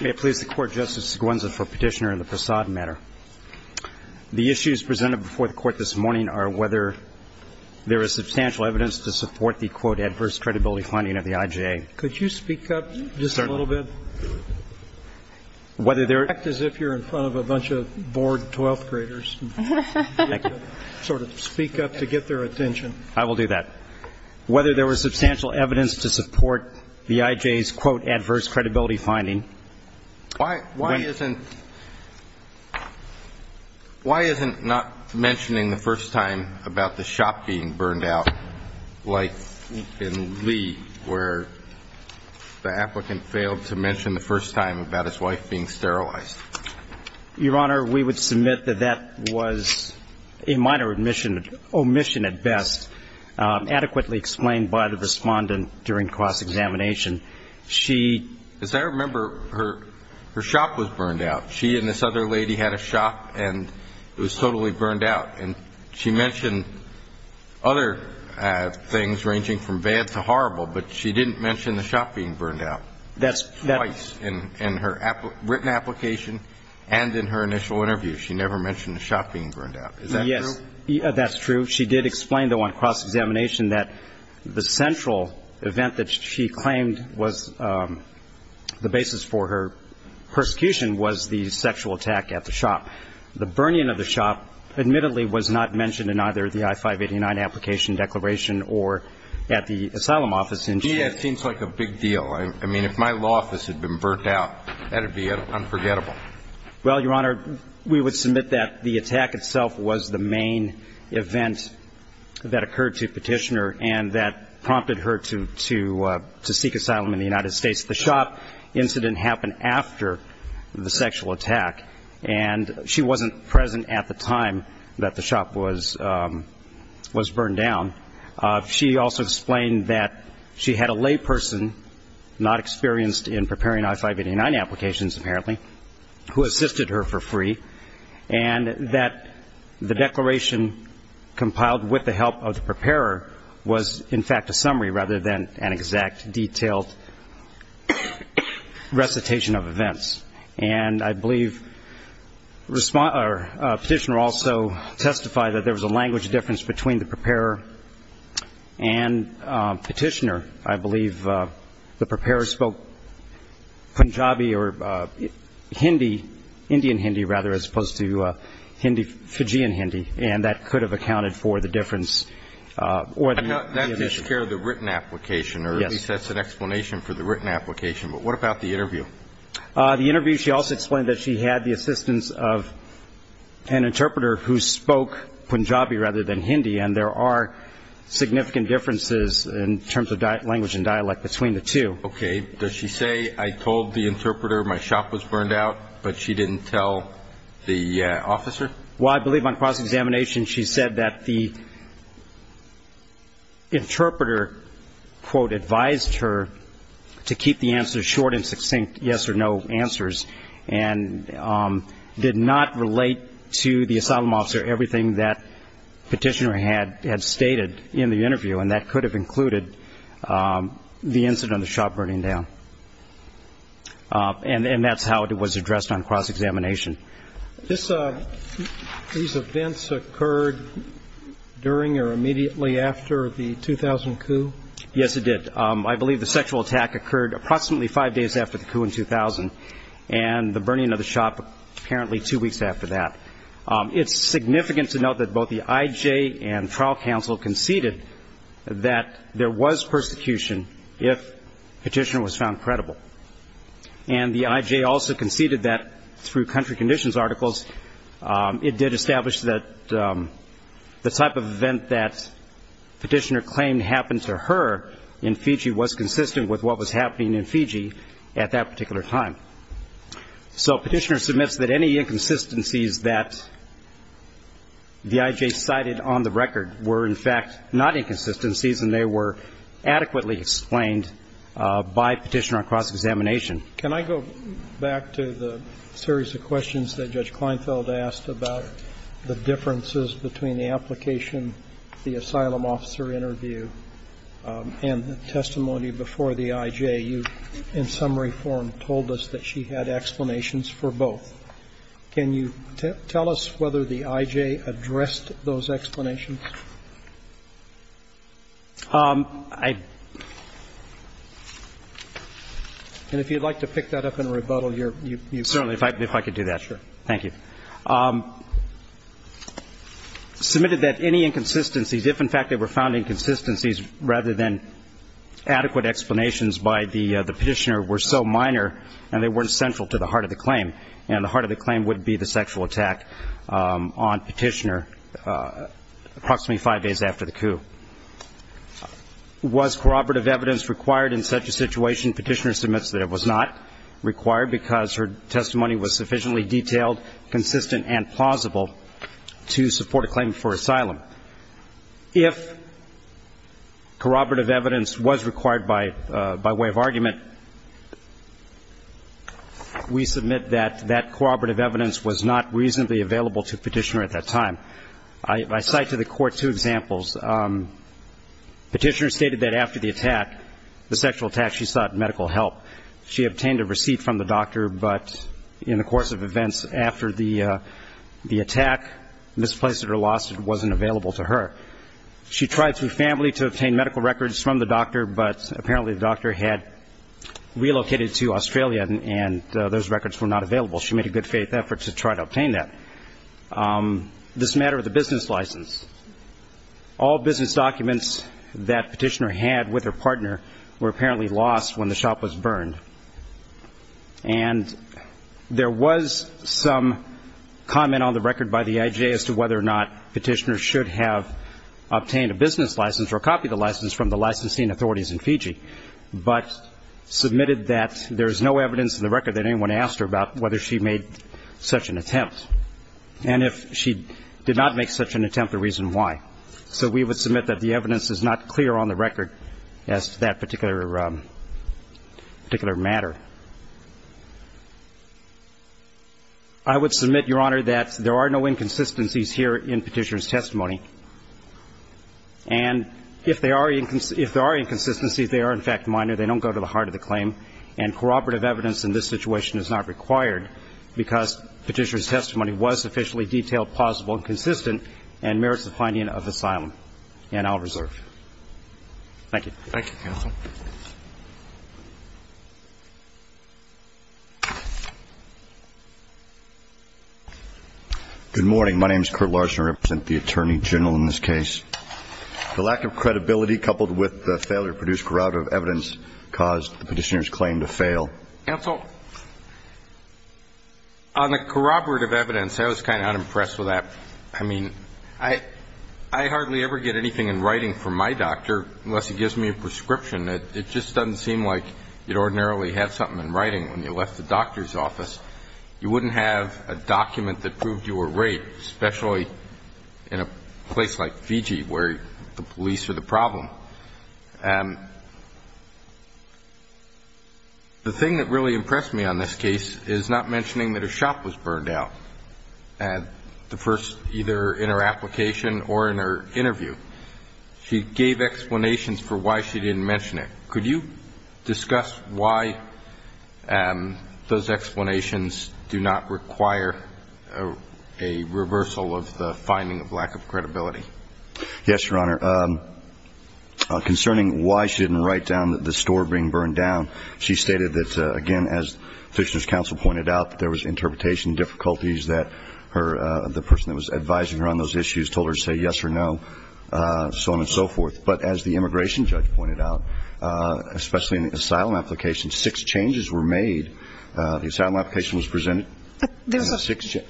May it please the Court, Justice Seguinza, for Petitioner in the Prasad matter. The issues presented before the Court this morning are whether there is substantial evidence to support the, quote, adverse credibility finding of the IJA. Could you speak up just a little bit? Whether there- Act as if you're in front of a bunch of bored twelfth graders and sort of speak up to get their attention. I will do that. Whether there was substantial evidence to support the IJA's, quote, adverse credibility finding- Why- Why- Why isn't- Why isn't not mentioning the first time about the shop being burned out like in Lee where the applicant failed to mention the first time about his wife being sterilized? Your Honor, we would submit that that was a minor admission, omission at best, adequately explained by the respondent during cross-examination. She- As I remember, her shop was burned out. She and this other lady had a shop and it was totally burned out. And she mentioned other things ranging from bad to horrible, but she didn't mention the shop being burned out- That's- In her written application and in her initial interview, she never mentioned the shop being burned out. Is that true? Yes. That's true. She did explain, though, on cross-examination that the central event that she claimed was the basis for her persecution was the sexual attack at the shop. The burning of the shop, admittedly, was not mentioned in either the I-589 application declaration or at the asylum office in- Yeah. It seems like a big deal. I mean, if my law office had been burnt out, that would be unforgettable. Well, Your Honor, we would submit that the attack itself was the main event that occurred to Petitioner and that prompted her to seek asylum in the United States. The shop incident happened after the sexual attack and she wasn't present at the time that the shop was burned down. She also explained that she had a layperson not experienced in preparing I-589 applications, apparently, who assisted her for free and that the declaration compiled with the help of the preparer was, in fact, a summary rather than an exact, detailed recitation of events. And I believe Petitioner also testified that there was a language difference between the interpreter and Petitioner. I believe the preparer spoke Punjabi or Hindi, Indian Hindi, rather, as opposed to Hindi, Fijian Hindi, and that could have accounted for the difference or the issue. That takes care of the written application, or at least that's an explanation for the written application. But what about the interview? The interview, she also explained that she had the assistance of an interpreter who spoke Punjabi rather than Hindi, and there are significant differences in terms of language and dialect between the two. Okay. Does she say, I told the interpreter my shop was burned out, but she didn't tell the officer? Well, I believe on cross-examination she said that the interpreter, quote, advised her to keep the answers short and succinct, yes or no answers, and did not relate to the asylum officer everything that Petitioner had stated in the interview, and that could have included the incident of the shop burning down. And that's how it was addressed on cross-examination. These events occurred during or immediately after the 2000 coup? Yes, it did. I believe the sexual attack occurred approximately five days after the coup in 2000, and the burning of the shop apparently two weeks after that. It's significant to note that both the IJ and trial counsel conceded that there was persecution if Petitioner was found credible, and the IJ also conceded that through country conditions articles, it did establish that the type of event that Petitioner claimed happened to her in Fiji was consistent with what was happening in Fiji at that particular time. So Petitioner submits that any inconsistencies that the IJ cited on the record were in fact not inconsistencies, and they were adequately explained by Petitioner on cross-examination. Can I go back to the series of questions that Judge Kleinfeld asked about the differences between the application, the asylum officer interview, and the testimony before the IJ? In summary form, she told us that she had explanations for both. Can you tell us whether the IJ addressed those explanations? And if you'd like to pick that up and rebuttal, you're welcome. Certainly, if I could do that. Sure. Thank you. Submitted that any inconsistencies, if in fact they were found inconsistencies rather than adequate explanations by the Petitioner were so minor and they weren't central to the heart of the claim, and the heart of the claim would be the sexual attack on Petitioner approximately five days after the coup. Was corroborative evidence required in such a situation? Petitioner submits that it was not required because her testimony was sufficiently detailed, consistent and plausible to support a claim for asylum. If corroborative evidence was required by way of argument, we submit that that corroborative evidence was not reasonably available to Petitioner at that time. I cite to the court two examples. Petitioner stated that after the attack, the sexual attack, she sought medical help. She obtained a receipt from the doctor, but in the course of events after the attack, this place of her loss wasn't available to her. She tried through family to obtain medical records from the doctor, but apparently the doctor had relocated to Australia and those records were not available. She made a good faith effort to try to obtain that. This matter of the business license, all business documents that Petitioner had with her partner were apparently lost when the shop was burned. And there was some comment on the record by the IJ as to whether or not Petitioner should have obtained a business license or a copy of the license from the licensing authorities in Fiji, but submitted that there is no evidence in the record that anyone asked her about whether she made such an attempt, and if she did not make such an attempt, the reason why. So we would submit that the evidence is not clear on the record as to that particular matter. I would submit, Your Honor, that there are no inconsistencies here in Petitioner's testimony, and if there are inconsistencies, they are, in fact, minor. They don't go to the heart of the claim, and corroborative evidence in this situation is not required because Petitioner's testimony was sufficiently detailed, plausible, and consistent and merits the finding of asylum, and I'll reserve. Thank you. Thank you, Counsel. Good morning. My name is Kurt Larson. I represent the Attorney General in this case. The lack of credibility coupled with the failure to produce corroborative evidence caused the Petitioner's claim to fail. Counsel, on the corroborative evidence, I was kind of unimpressed with that. I mean, I hardly ever get anything in writing from my doctor unless he gives me a prescription. It just doesn't seem like you'd ordinarily have something in writing when you left the doctor's office. You wouldn't have a document that proved you were raped, especially in a place like Fiji where the police are the problem. The thing that really impressed me on this case is not mentioning that a shop was burned down. The first either in her application or in her interview, she gave explanations for why she didn't mention it. Could you discuss why those explanations do not require a reversal of the finding of lack of credibility? Yes, Your Honor. Concerning why she didn't write down that the store being burned down, she stated that, again, as the Petitioner's counsel pointed out, there was interpretation difficulties that the person that was advising her on those issues told her to say yes or no, so on and so forth. But as the immigration judge pointed out, especially in the asylum application, six changes were made. The asylum application was presented and then six changes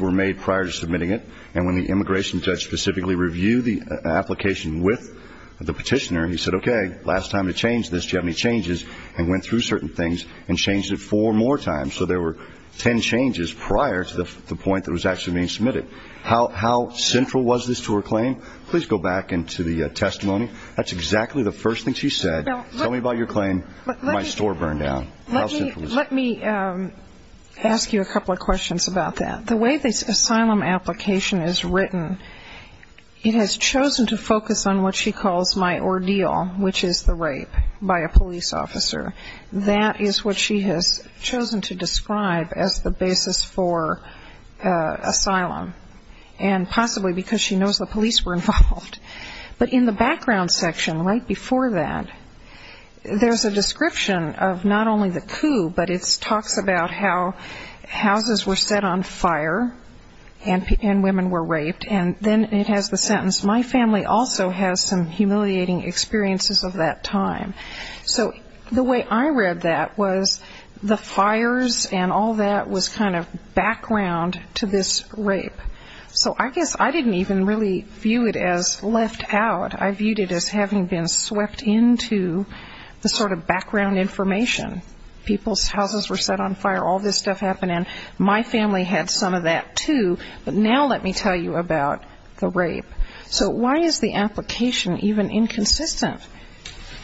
were made prior to submitting it. And when the immigration judge specifically reviewed the application with the Petitioner, he said, okay, last time to change this, do you have any changes, and went through certain things and changed it four more times. So there were ten changes prior to the point that it was actually being submitted. How central was this to her claim? Please go back into the testimony. That's exactly the first thing she said. Tell me about your claim, my store burned down. Let me ask you a couple of questions about that. The way this asylum application is written, it has chosen to focus on what she calls my ordeal, which is the rape by a police officer. That is what she has chosen to describe as the basis for asylum. And possibly because she knows the police were involved. But in the background section, right before that, there's a description of not only the coup, but it talks about how houses were set on fire and women were raped. And then it has the sentence, my family also has some humiliating experiences of that time. So the way I read that was the fires and all that was kind of background to this rape. So I guess I didn't even really view it as left out, I viewed it as having been swept into the sort of background information. People's houses were set on fire, all this stuff happened, and my family had some of that too, but now let me tell you about the rape. So why is the application even inconsistent?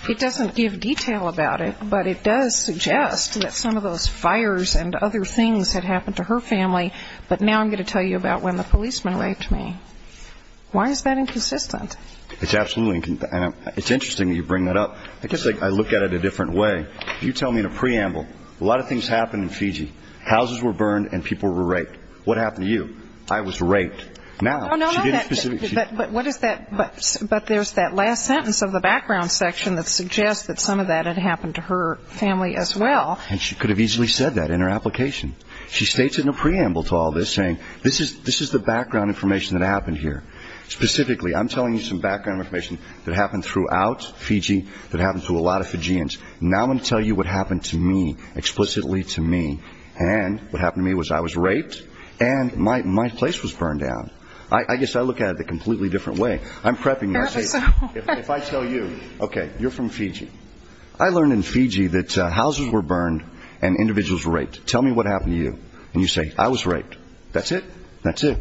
It doesn't give detail about it, but it does suggest that some of those fires and other things had happened to her family, but now I'm going to tell you about when the policeman raped me. Why is that inconsistent? It's absolutely inconsistent. It's interesting that you bring that up, I guess I look at it a different way. You tell me in a preamble, a lot of things happened in Fiji. Houses were burned and people were raped. What happened to you? I was raped. No, no, no. But what is that, but there's that last sentence of the background section that suggests that some of that had happened to her family as well. And she could have easily said that in her application. She states it in a preamble to all this, saying this is the background information that happened here. Specifically, I'm telling you some background information that happened throughout Fiji, that happened to a lot of Fijians. Now I'm going to tell you what happened to me, explicitly to me, and what happened to me was I was raped and my place was burned down. I guess I look at it a completely different way. I'm prepping myself. If I tell you, okay, you're from Fiji. I learned in Fiji that houses were burned and individuals were raped. Tell me what happened to you. And you say, I was raped. That's it? That's it.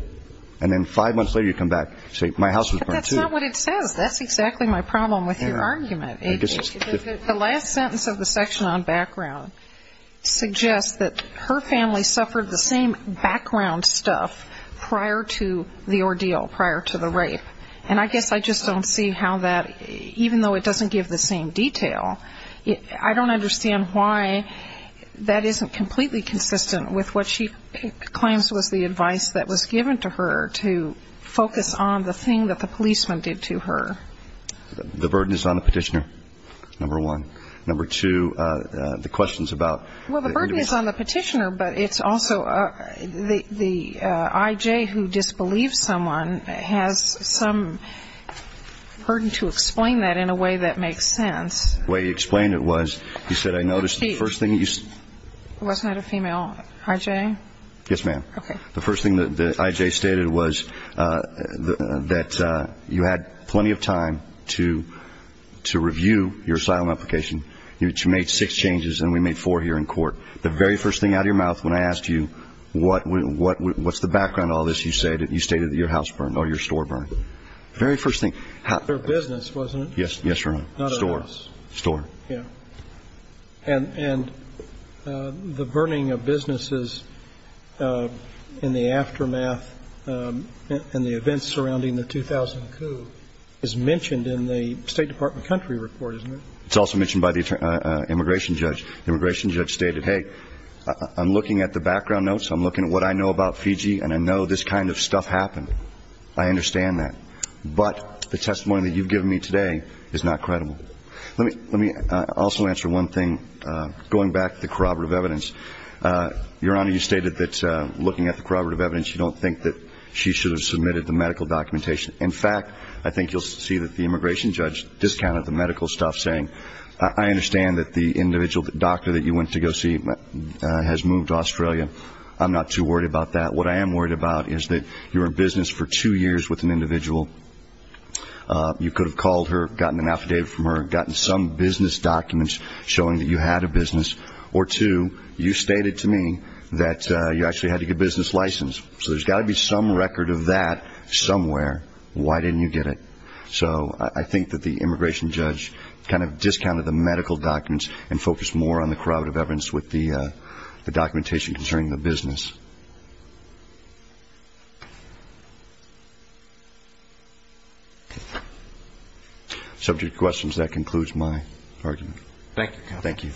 And then five months later you come back and say, my house was burned too. But that's not what it says. That's exactly my problem with your argument. The last sentence of the section on background suggests that her family suffered the same background stuff prior to the ordeal, prior to the rape. And I guess I just don't see how that, even though it doesn't give the same detail, I don't understand why that isn't completely consistent with what she claims was the advice that was given to her to focus on the thing that the policeman did to her. The burden is on the petitioner, number one. Number two, the questions about the individual. Well, the burden is on the petitioner, but it's also the I.J. who disbelieves someone has some burden to explain that in a way that makes sense. The way he explained it was, he said, I noticed the first thing that you said. It wasn't a female I.J.? Yes, ma'am. Okay. The first thing that I.J. stated was that you had plenty of time to review your asylum application. You made six changes and we made four here in court. The very first thing out of your mouth when I asked you what's the background to all this, you stated that your house burned or your store burned. Very first thing. Their business, wasn't it? Yes, ma'am. Not a house. Store. Store. Yeah. And the burning of businesses in the aftermath and the events surrounding the 2000 coup is mentioned in the State Department country report, isn't it? It's also mentioned by the immigration judge. Immigration judge stated, hey, I'm looking at the background notes, I'm looking at what I know about Fiji and I know this kind of stuff happened. I understand that. But the testimony that you've given me today is not credible. Let me also answer one thing. Going back to the corroborative evidence, Your Honor, you stated that looking at the corroborative evidence, you don't think that she should have submitted the medical documentation. In fact, I think you'll see that the immigration judge discounted the medical stuff, saying I understand that the individual doctor that you went to go see has moved to Australia. I'm not too worried about that. What I am worried about is that you were in business for two years with an individual. You could have called her, gotten an affidavit from her, gotten some business documents showing that you had a business, or two, you stated to me that you actually had to get a business license. So there's got to be some record of that somewhere. Why didn't you get it? So I think that the immigration judge kind of discounted the medical documents and focused more on the corroborative evidence with the documentation concerning the business. Subject to questions, that concludes my argument. Thank you. Thank you.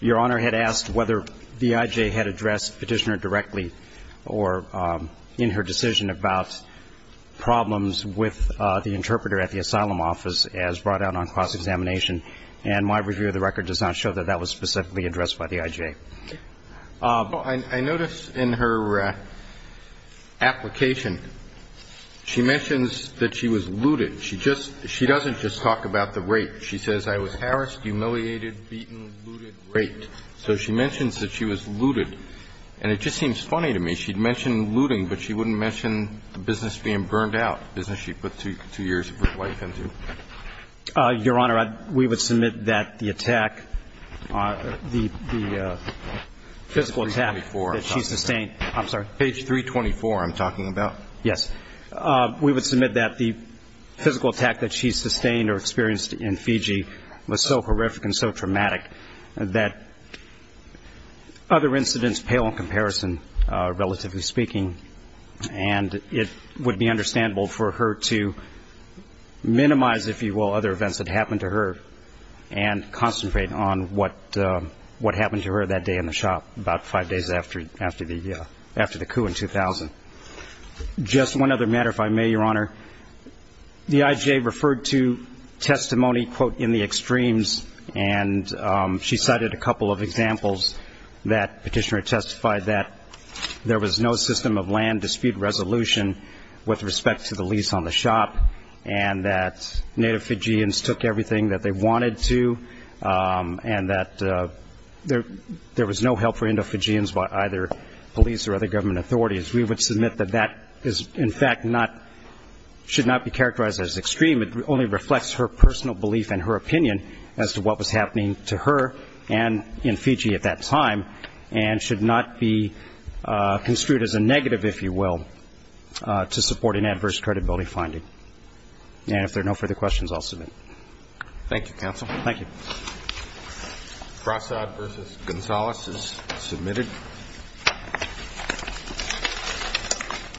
Your Honor, I had asked whether V.I.J. had addressed Petitioner directly or in her decision She had not. She had not. She had not. I noticed in her application, she mentions that she was looted. She doesn't just talk about the rape. She says, I was harassed, humiliated, beaten, looted, raped. So she mentions that she was looted. And it just seems funny to me. She'd mention looting, but she wouldn't mention the business being burned out, the business So I don't know. Your Honor, we would submit that the attack, the physical attack that she sustained Page 324, I'm talking about. Yes. We would submit that the physical attack that she sustained or experienced in Fiji was so horrific and so traumatic that other incidents pale in comparison, relatively speaking. And it would be understandable for her to minimize, if you will, other events that happened to her and concentrate on what happened to her that day in the shop, about five days after the coup in 2000. Just one other matter, if I may, Your Honor. V.I.J. referred to testimony, quote, in the extremes, and she cited a couple of examples that Petitioner testified that there was no system of land dispute resolution with respect to the lease on the shop and that native Fijians took everything that they wanted to, and that there was no help for Indo-Fijians by either police or other government authorities. We would submit that that is, in fact, should not be characterized as extreme. It only reflects her personal belief and her opinion as to what was happening to her and in Fiji at that time and should not be construed as a negative, if you will, to support an adverse credibility finding. And if there are no further questions, I'll submit. Thank you, counsel. Thank you.